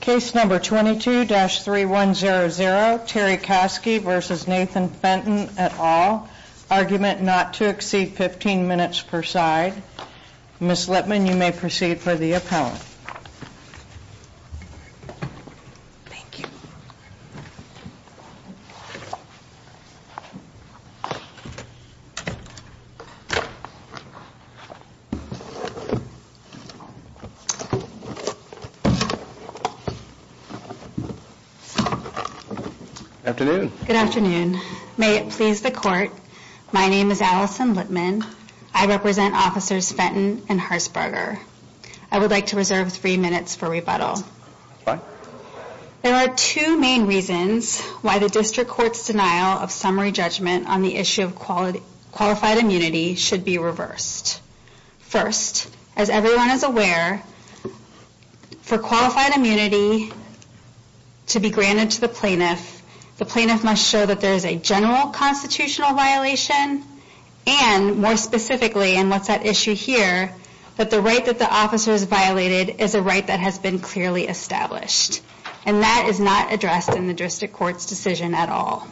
Case number 22-3100, Terry Caskey v. Nathan Fenton, et al., argument not to exceed 15 minutes per side. Ms. Lippman, you may proceed for the appellant. Ms. Lippman, may it please the court, my name is Allison Lippman, I represent officers Fenton and Herzberger. I would like to reserve three minutes for rebuttal. There are two main reasons why the district court's denial of summary judgment on the issue of qualified immunity should be reversed. First, as everyone is aware, for qualified immunity to be granted to the plaintiff, the plaintiff must show that there is a general constitutional violation and more specifically, and what's at issue here, that the right that the officer has violated is a right that has been clearly established. And that is not addressed in the district court's decision at all.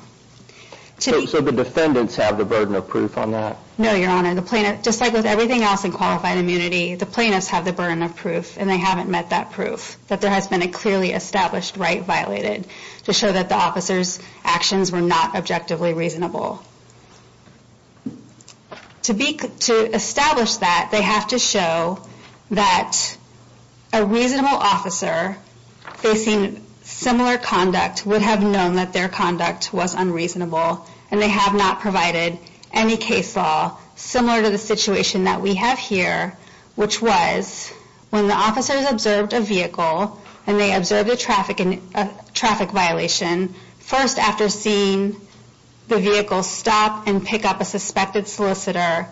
So the defendants have the burden of proof on that? No, your honor, just like with everything else in qualified immunity, the plaintiffs have the burden of proof and they haven't met that proof. That there has been a clearly established right violated to show that the officer's actions were not objectively reasonable. To establish that, they have to show that a reasonable officer facing similar conduct would have known that their conduct was unreasonable and they have not provided any case law similar to the situation that we have here, which was when the officers observed a vehicle and they observed a traffic violation, first after seeing the vehicle stop and pick up a suspected solicitor,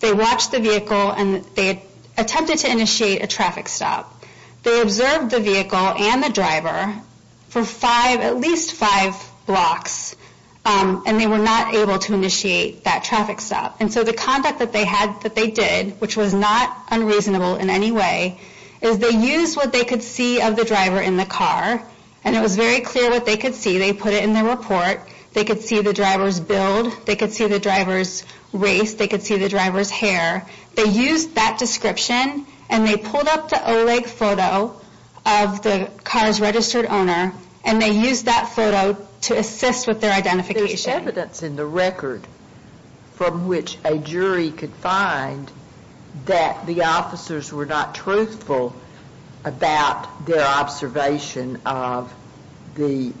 they watched the vehicle and they attempted to initiate a traffic stop. They observed the vehicle and the driver for five, at least five blocks and they were not able to initiate that traffic stop. And so the conduct that they had, that they did, which was not unreasonable in any way, is they used what they could see of the driver in the car and it was very clear what they could see. They put it in their report, they could see the driver's build, they could see the driver's race, they could see the driver's hair. They used that description and they pulled up the OLEG photo of the car's registered owner and they used that photo to assist with their identification. There's evidence in the record from which a jury could find that the officers were not truthful about their observation of the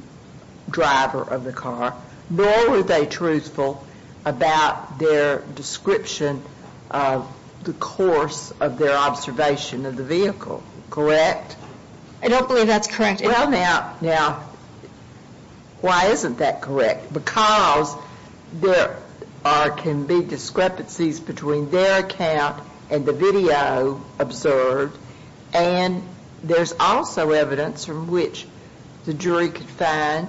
driver of the car, nor were they truthful about their description of the course of their observation of the vehicle. Correct? I don't believe that's correct. Well, now, why isn't that correct? Because there can be discrepancies between their account and the video observed and there's also evidence from which the jury could find,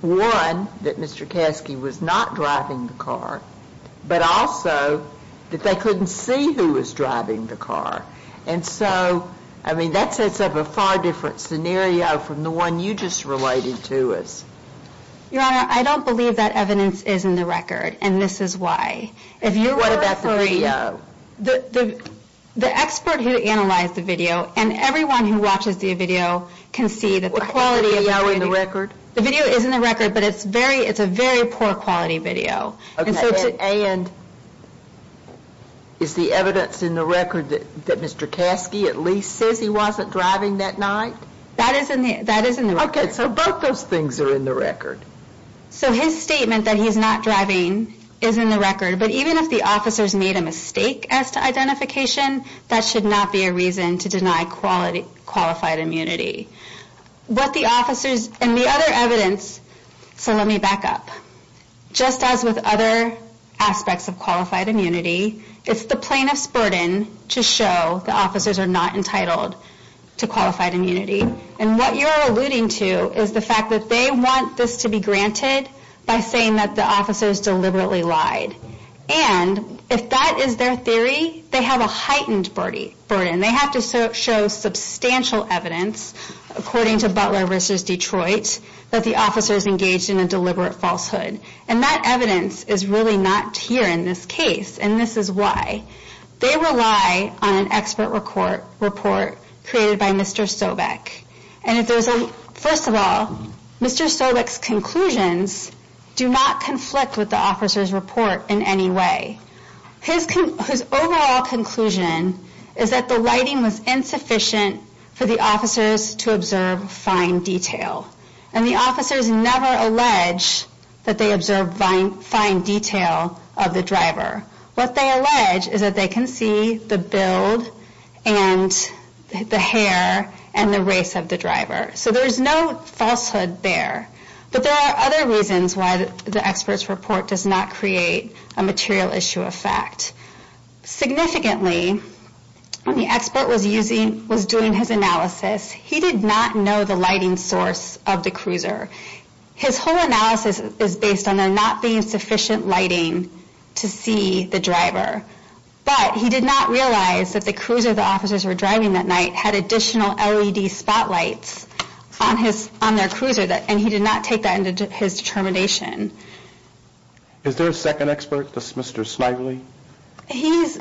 one, that Mr. Caskey was not driving the car, but also that they couldn't see who was driving the car. And so, I mean, that sets up a far different scenario from the one you just related to us. Your Honor, I don't believe that evidence is in the record and this is why. What about the video? The expert who analyzed the video and everyone who watches the video can see that the quality of the video... Is the video in the record? The video is in the record, but it's a very poor quality video. And is the evidence in the record that Mr. Caskey at least says he wasn't driving that night? That is in the record. Okay, so both those things are in the record. So his statement that he's not driving is in the record, but even if the officers made a mistake as to identification, that should not be a reason to deny qualified immunity. What the officers and the other evidence... So let me back up. Just as with other aspects of qualified immunity, it's the plaintiff's burden to show the officers are not entitled to qualified immunity. And what you're alluding to is the fact that they want this to be granted by saying that the officers deliberately lied. And if that is their theory, they have a heightened burden. They have to show substantial evidence, according to Butler v. Detroit, that the officers engaged in a deliberate falsehood. And that evidence is really not here in this case, and this is why. They rely on an expert report created by Mr. Sobeck. And if there's a... First of all, Mr. Sobeck's conclusions do not conflict with the officer's report in any way. His overall conclusion is that the lighting was insufficient for the officers to observe fine detail. And the officers never allege that they observed fine detail of the driver. What they allege is that they can see the build and the hair and the race of the driver. So there's no falsehood there. But there are other reasons why the expert's report does not create a material issue of fact. Significantly, when the expert was doing his analysis, he did not know the lighting source of the cruiser. His whole analysis is based on there not being sufficient lighting to see the driver. But he did not realize that the cruiser the officers were driving that night had additional LED spotlights on their cruiser. And he did not take that into his determination. Is there a second expert, Mr. Smigley? He's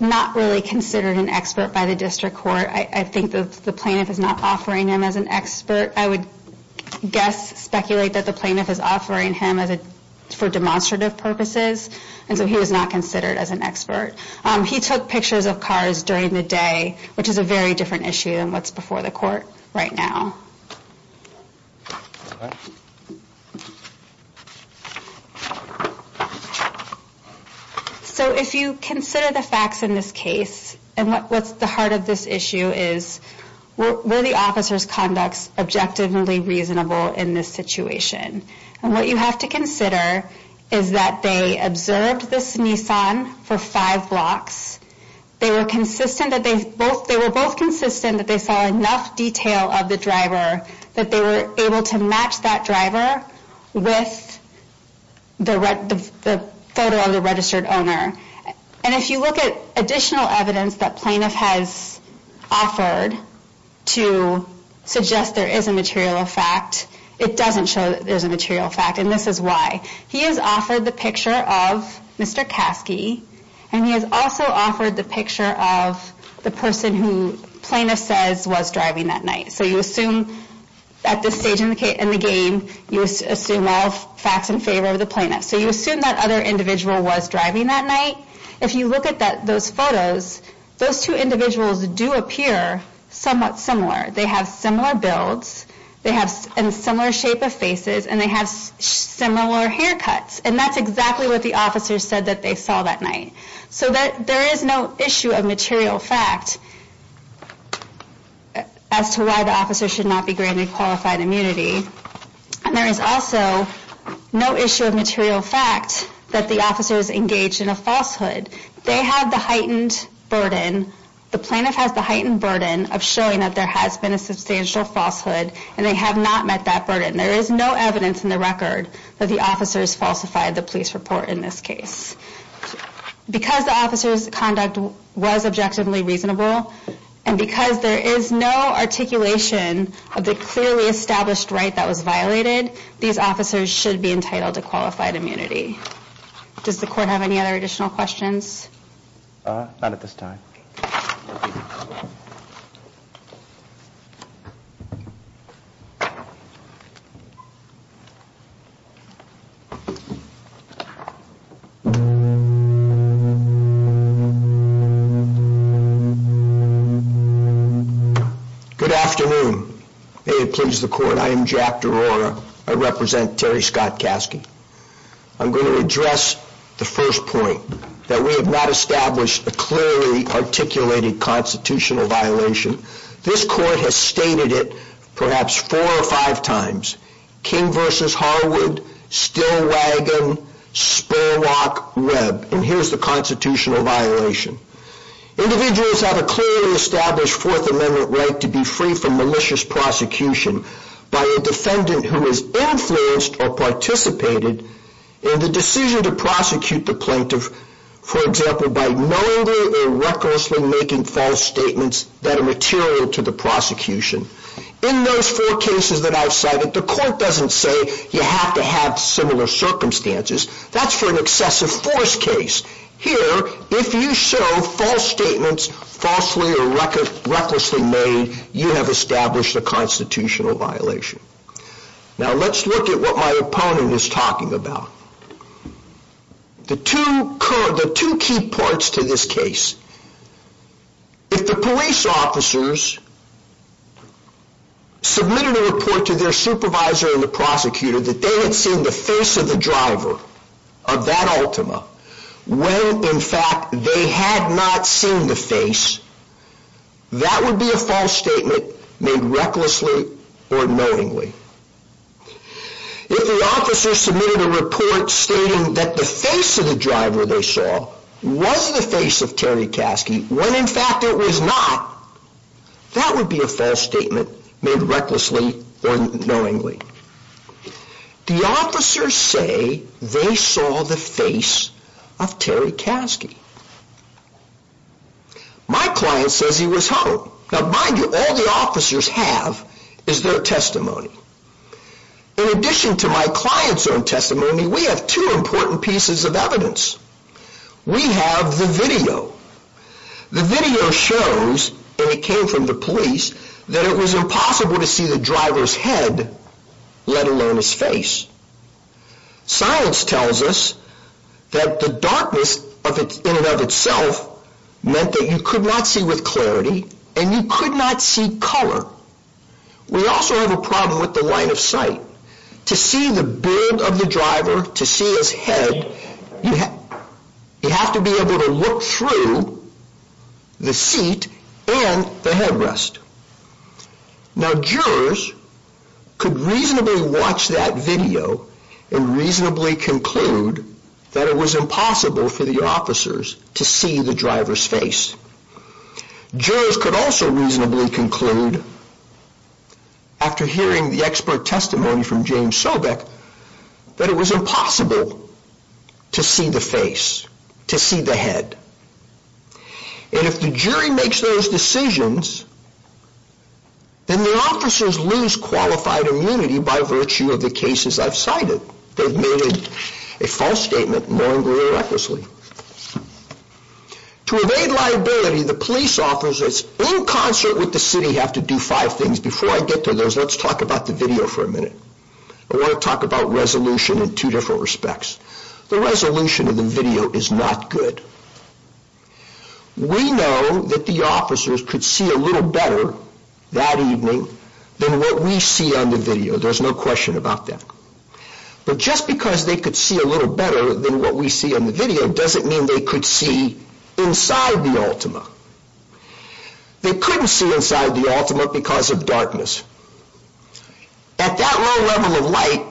not really considered an expert by the district court. I think the plaintiff is not offering him as an expert. I would guess, speculate that the plaintiff is offering him for demonstrative purposes. And so he was not considered as an expert. He took pictures of cars during the day, which is a very different issue than what's before the court right now. So if you consider the facts in this case, and what's at the heart of this issue is, were the officers' conducts objectively reasonable in this situation? And what you have to consider is that they observed this Nissan for five blocks. They were both consistent that they saw enough detail of the driver that they were able to match that driver with the photo of the registered owner. And if you look at additional evidence that plaintiff has offered to suggest there is a material effect, it doesn't show that there's a material effect, and this is why. He has offered the picture of Mr. Kasky, and he has also offered the picture of the person who plaintiff says was driving that night. So you assume at this stage in the game, you assume all facts in favor of the plaintiff. So you assume that other individual was driving that night. If you look at those photos, those two individuals do appear somewhat similar. They have similar builds, they have a similar shape of faces, and they have similar haircuts. And that's exactly what the officers said that they saw that night. So there is no issue of material fact as to why the officer should not be granted qualified immunity. And there is also no issue of material fact that the officer is engaged in a falsehood. They have the heightened burden, the plaintiff has the heightened burden of showing that there has been a substantial falsehood, and they have not met that burden. There is no evidence in the record that the officers falsified the police report in this case. Because the officer's conduct was objectively reasonable, and because there is no articulation of the clearly established right that was violated, these officers should be entitled to qualified immunity. Does the court have any other additional questions? Not at this time. Good afternoon. May it please the court, I am Jack DeRora. I represent Terry Scott Caskey. I'm going to address the first point, that we have not established a clearly articulated constitutional violation. This court has stated it perhaps four or five times. King v. Harwood, Stillwagon, Spurlock, Webb. And here's the constitutional violation. Individuals have a clearly established Fourth Amendment right to be free from malicious prosecution by a defendant who has influenced or participated in the decision to prosecute the plaintiff, for example, by knowingly or recklessly making false statements that are material to the prosecution. In those four cases that I've cited, the court doesn't say you have to have similar circumstances. That's for an excessive force case. Here, if you show false statements, falsely or recklessly made, you have established a constitutional violation. Now, let's look at what my opponent is talking about. The two key parts to this case. If the police officers submitted a report to their supervisor and the prosecutor that they had seen the face of the driver of that Altima when, in fact, they had not seen the face, that would be a false statement made recklessly or knowingly. If the officers submitted a report stating that the face of the driver they saw was the face of Terry Caskey when, in fact, it was not, that would be a false statement made recklessly or knowingly. The officers say they saw the face of Terry Caskey. My client says he was home. Now, mind you, all the officers have is their testimony. In addition to my client's own testimony, we have two important pieces of evidence. We have the video. The video shows, and it came from the police, that it was impossible to see the driver's head, let alone his face. Science tells us that the darkness in and of itself meant that you could not see with clarity and you could not see color. We also have a problem with the line of sight. To see the beard of the driver, to see his head, you have to be able to look through the seat and the headrest. Now, jurors could reasonably watch that video and reasonably conclude that it was impossible for the officers to see the driver's face. Jurors could also reasonably conclude, after hearing the expert testimony from James Sobeck, that it was impossible to see the face, to see the head. And if the jury makes those decisions, then the officers lose qualified immunity by virtue of the cases I've cited. They've made a false statement knowingly or recklessly. To evade liability, the police officers, in concert with the city, have to do five things. Before I get to those, let's talk about the video for a minute. I want to talk about resolution in two different respects. The resolution of the video is not good. We know that the officers could see a little better that evening than what we see on the video. There's no question about that. But just because they could see a little better than what we see on the video doesn't mean they could see inside the Altima. They couldn't see inside the Altima because of darkness. At that low level of light,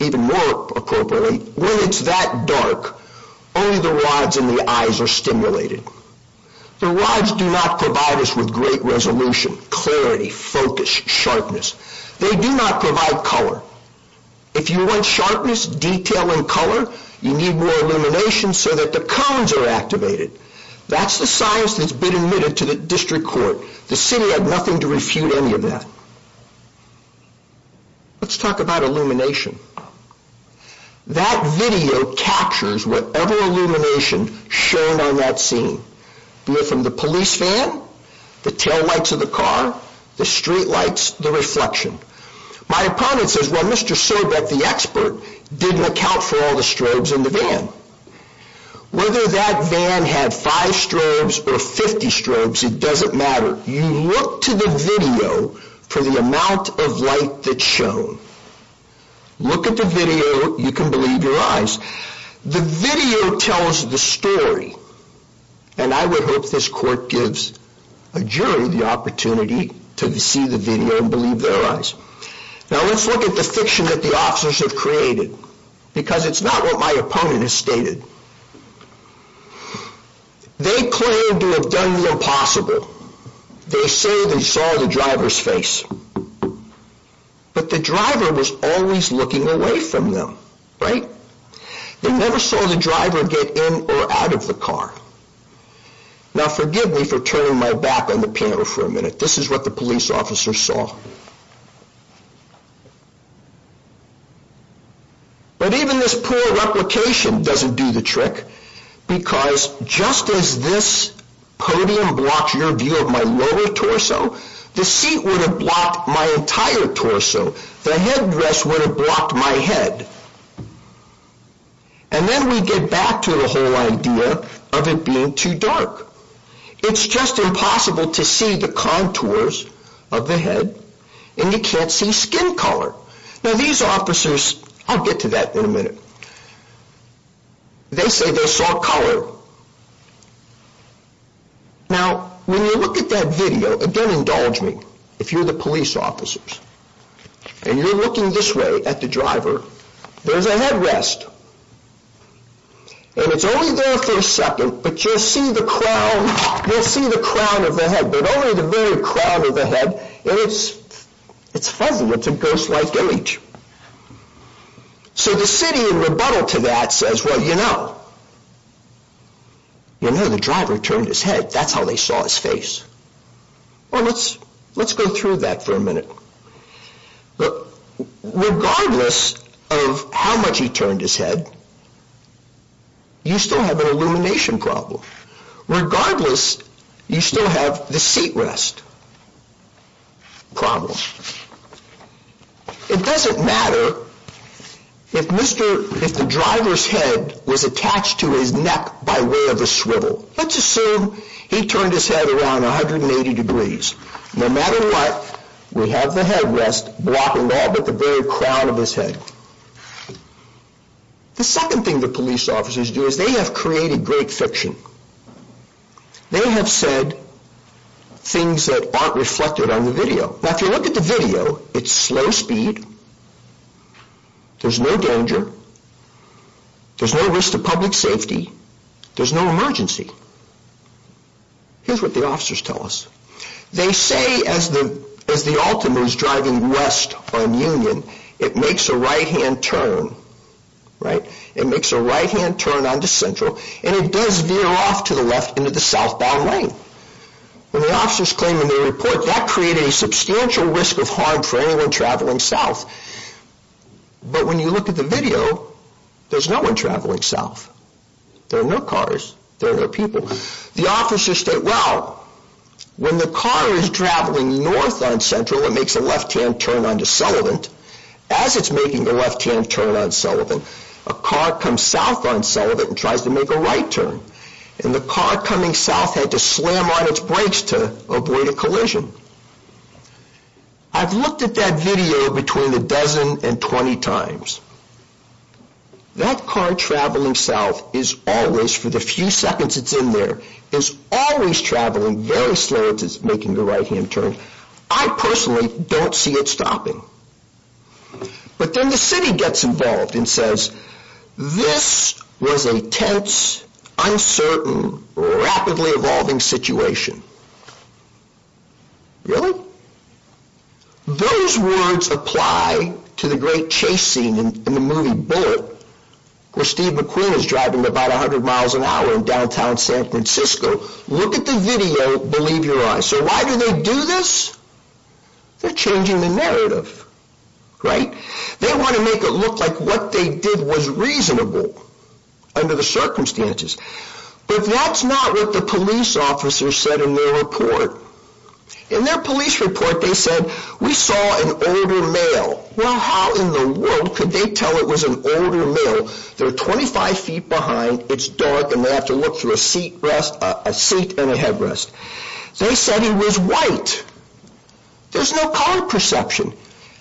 even more appropriately, when it's that dark, only the rods in the eyes are stimulated. The rods do not provide us with great resolution, clarity, focus, sharpness. They do not provide color. If you want sharpness, detail, and color, you need more illumination so that the cones are activated. That's the science that's been admitted to the district court. The city had nothing to refute any of that. Let's talk about illumination. That video captures whatever illumination shown on that scene, be it from the police van, the taillights of the car, the streetlights, the reflection. My opponent says, well, Mr. Sorbet, the expert, didn't account for all the strobes in the van. Whether that van had five strobes or 50 strobes, it doesn't matter. You look to the video for the amount of light that's shown. Look at the video. You can believe your eyes. The video tells the story, and I would hope this court gives a jury the opportunity to see the video and believe their eyes. Now, let's look at the fiction that the officers have created, because it's not what my opponent has stated. They claim to have done the impossible. They say they saw the driver's face, but the driver was always looking away from them, right? They never saw the driver get in or out of the car. Now, forgive me for turning my back on the panel for a minute. This is what the police officer saw. But even this poor replication doesn't do the trick, because just as this podium blocks your view of my lower torso, the seat would have blocked my entire torso. The headrest would have blocked my head. And then we get back to the whole idea of it being too dark. It's just impossible to see the contours of the head, and you can't see skin color. Now, these officers, I'll get to that in a minute. They say they saw color. Now, when you look at that video, and don't indulge me if you're the police officers, and you're looking this way at the driver, there's a headrest. And it's only there for a second, but you'll see the crown of the head, but only the very crown of the head. And it's fuzzy. It's a ghost-like image. So the city, in rebuttal to that, says, well, you know, you know the driver turned his head. That's how they saw his face. Well, let's go through that for a minute. Regardless of how much he turned his head, you still have an illumination problem. Regardless, you still have the seatrest problem. It doesn't matter if the driver's head was attached to his neck by way of a swivel. Let's assume he turned his head around 180 degrees. No matter what, we have the headrest blocking all but the very crown of his head. The second thing the police officers do is they have created great fiction. They have said things that aren't reflected on the video. Now, if you look at the video, it's slow speed. There's no danger. There's no risk to public safety. There's no emergency. Here's what the officers tell us. They say as the Altima is driving west on Union, it makes a right-hand turn, right? It makes a right-hand turn onto Central, and it does veer off to the left into the southbound lane. When the officers claim in their report, that created a substantial risk of harm for anyone traveling south. But when you look at the video, there's no one traveling south. There are no cars. There are no people. The officers say, well, when the car is traveling north on Central, it makes a left-hand turn onto Sullivan. As it's making the left-hand turn on Sullivan, a car comes south on Sullivan and tries to make a right turn. And the car coming south had to slam on its brakes to avoid a collision. I've looked at that video between a dozen and 20 times. That car traveling south is always, for the few seconds it's in there, is always traveling very slow as it's making the right-hand turn. I personally don't see it stopping. But then the city gets involved and says, this was a tense, uncertain, rapidly evolving situation. Really? Those words apply to the great chase scene in the movie Bullitt, where Steve McQueen is driving about 100 miles an hour in downtown San Francisco. Look at the video. Believe your eyes. So why do they do this? They're changing the narrative, right? They want to make it look like what they did was reasonable under the circumstances. But that's not what the police officers said in their report. In their police report, they said, we saw an older male. Well, how in the world could they tell it was an older male? They're 25 feet behind, it's dark, and they have to look through a seat and a headrest. They said he was white. There's no color perception.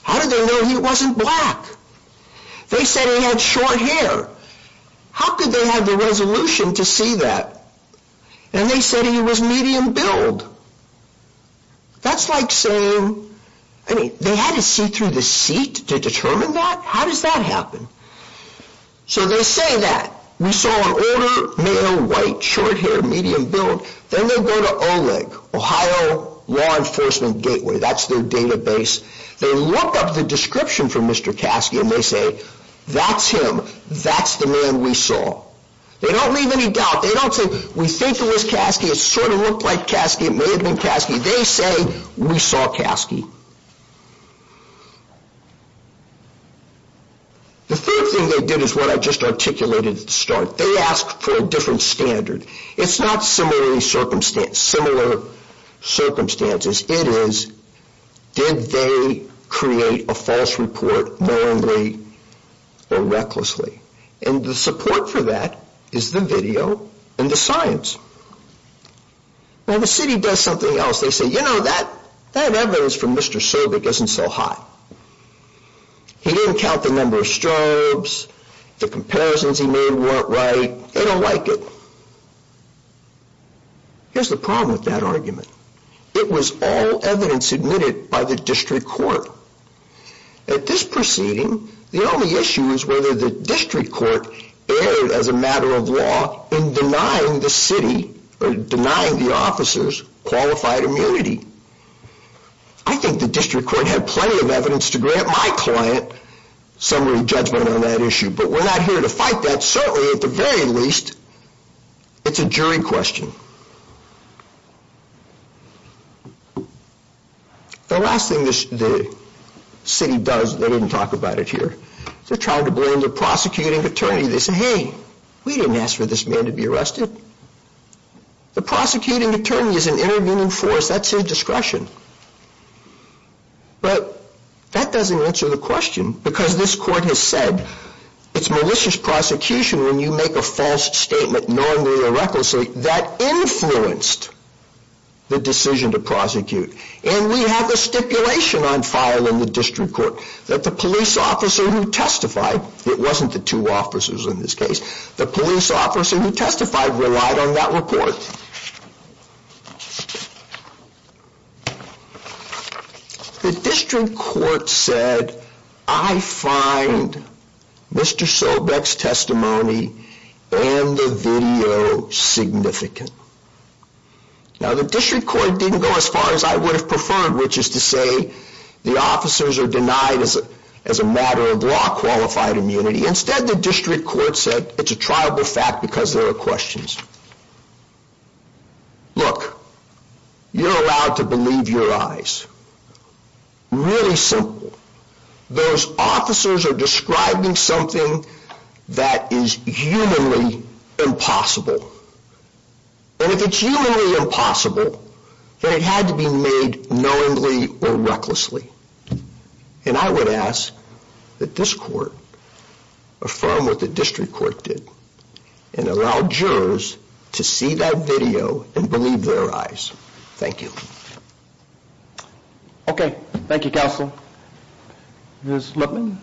How did they know he wasn't black? They said he had short hair. How could they have the resolution to see that? And they said he was medium build. That's like saying, I mean, they had to see through the seat to determine that? How does that happen? So they say that. We saw an older male, white, short hair, medium build. Then they go to OLEG, Ohio Law Enforcement Gateway. That's their database. They look up the description for Mr. Caskey, and they say, that's him. That's the man we saw. They don't leave any doubt. They don't say, we think it was Caskey. It sort of looked like Caskey. It may have been Caskey. They say, we saw Caskey. The third thing they did is what I just articulated at the start. They asked for a different standard. It's not similar circumstances. Similar circumstances. It is, did they create a false report wrongly or recklessly? And the support for that is the video and the science. Now, the city does something else. They say, you know, that evidence from Mr. Servick isn't so hot. He didn't count the number of strobes. The comparisons he made weren't right. They don't like it. Here's the problem with that argument. It was all evidence admitted by the district court. At this proceeding, the only issue is whether the district court erred, as a matter of law, in denying the city, or denying the officers, qualified immunity. I think the district court had plenty of evidence to grant my client summary judgment on that issue. But we're not here to fight that. Certainly, at the very least, it's a jury question. The last thing the city does, they didn't talk about it here. They're trying to blame the prosecuting attorney. They say, hey, we didn't ask for this man to be arrested. The prosecuting attorney is an intervening force. That's his discretion. But that doesn't answer the question, because this court has said, it's malicious prosecution when you make a false statement, knowingly or recklessly, that influenced the decision to prosecute. And we have a stipulation on file in the district court that the police officer who testified, it wasn't the two officers in this case, the police officer who testified relied on that report. The district court said, I find Mr. Sobeck's testimony and the video significant. Now, the district court didn't go as far as I would have preferred, which is to say, the officers are denied, as a matter of law, qualified immunity. Instead, the district court said, it's a triable fact, because there are questions. Look, you're allowed to believe your eyes. Really simple. Those officers are describing something that is humanly impossible. And if it's humanly impossible, then it had to be made knowingly or recklessly. And I would ask that this court affirm what the district court did, and allow jurors to see that video and believe their eyes. Thank you. Okay. Thank you, counsel. Ms. Lippman?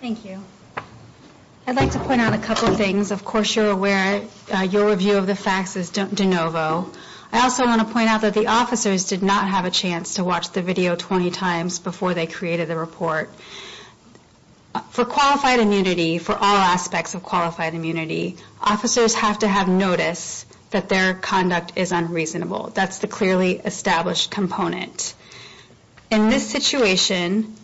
Thank you. I'd like to point out a couple things. Of course, you're aware your review of the facts is de novo. I also want to point out that the officers did not have a chance to watch the video 20 times before they created the report. For qualified immunity, for all aspects of qualified immunity, officers have to have notice that their conduct is unreasonable. That's the clearly established component. In this situation,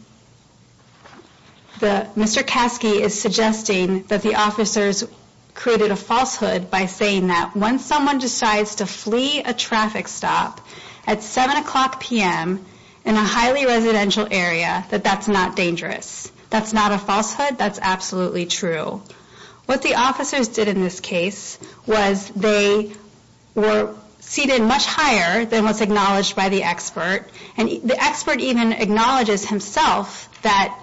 Mr. Kasky is suggesting that the officers created a falsehood by saying that once someone decides to flee a traffic stop at 7 o'clock p.m. in a highly residential area, that that's not dangerous. That's not a falsehood. That's absolutely true. What the officers did in this case was they were seated much higher than was acknowledged by the expert. And the expert even acknowledges himself that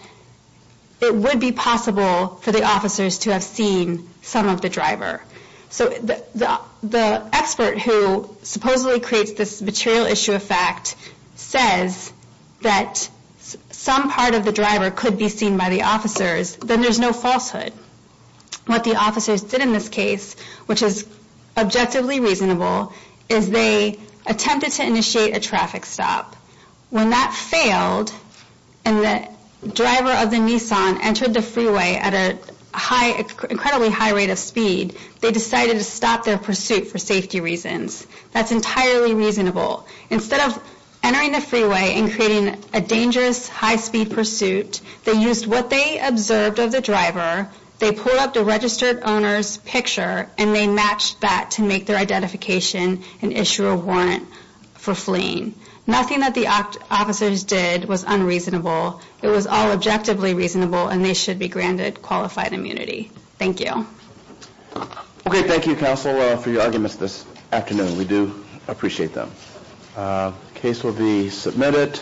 it would be possible for the officers to have seen some of the driver. So the expert who supposedly creates this material issue of fact says that some part of the driver could be seen by the officers. Then there's no falsehood. What the officers did in this case, which is objectively reasonable, is they attempted to initiate a traffic stop. When that failed and the driver of the Nissan entered the freeway at an incredibly high rate of speed, they decided to stop their pursuit for safety reasons. That's entirely reasonable. Instead of entering the freeway and creating a dangerous high-speed pursuit, they used what they observed of the driver, they pulled up the registered owner's picture, and they matched that to make their identification and issue a warrant for fleeing. Nothing that the officers did was unreasonable. It was all objectively reasonable, and they should be granted qualified immunity. Thank you. Okay, thank you, counsel, for your arguments this afternoon. We do appreciate them. The case will be submitted.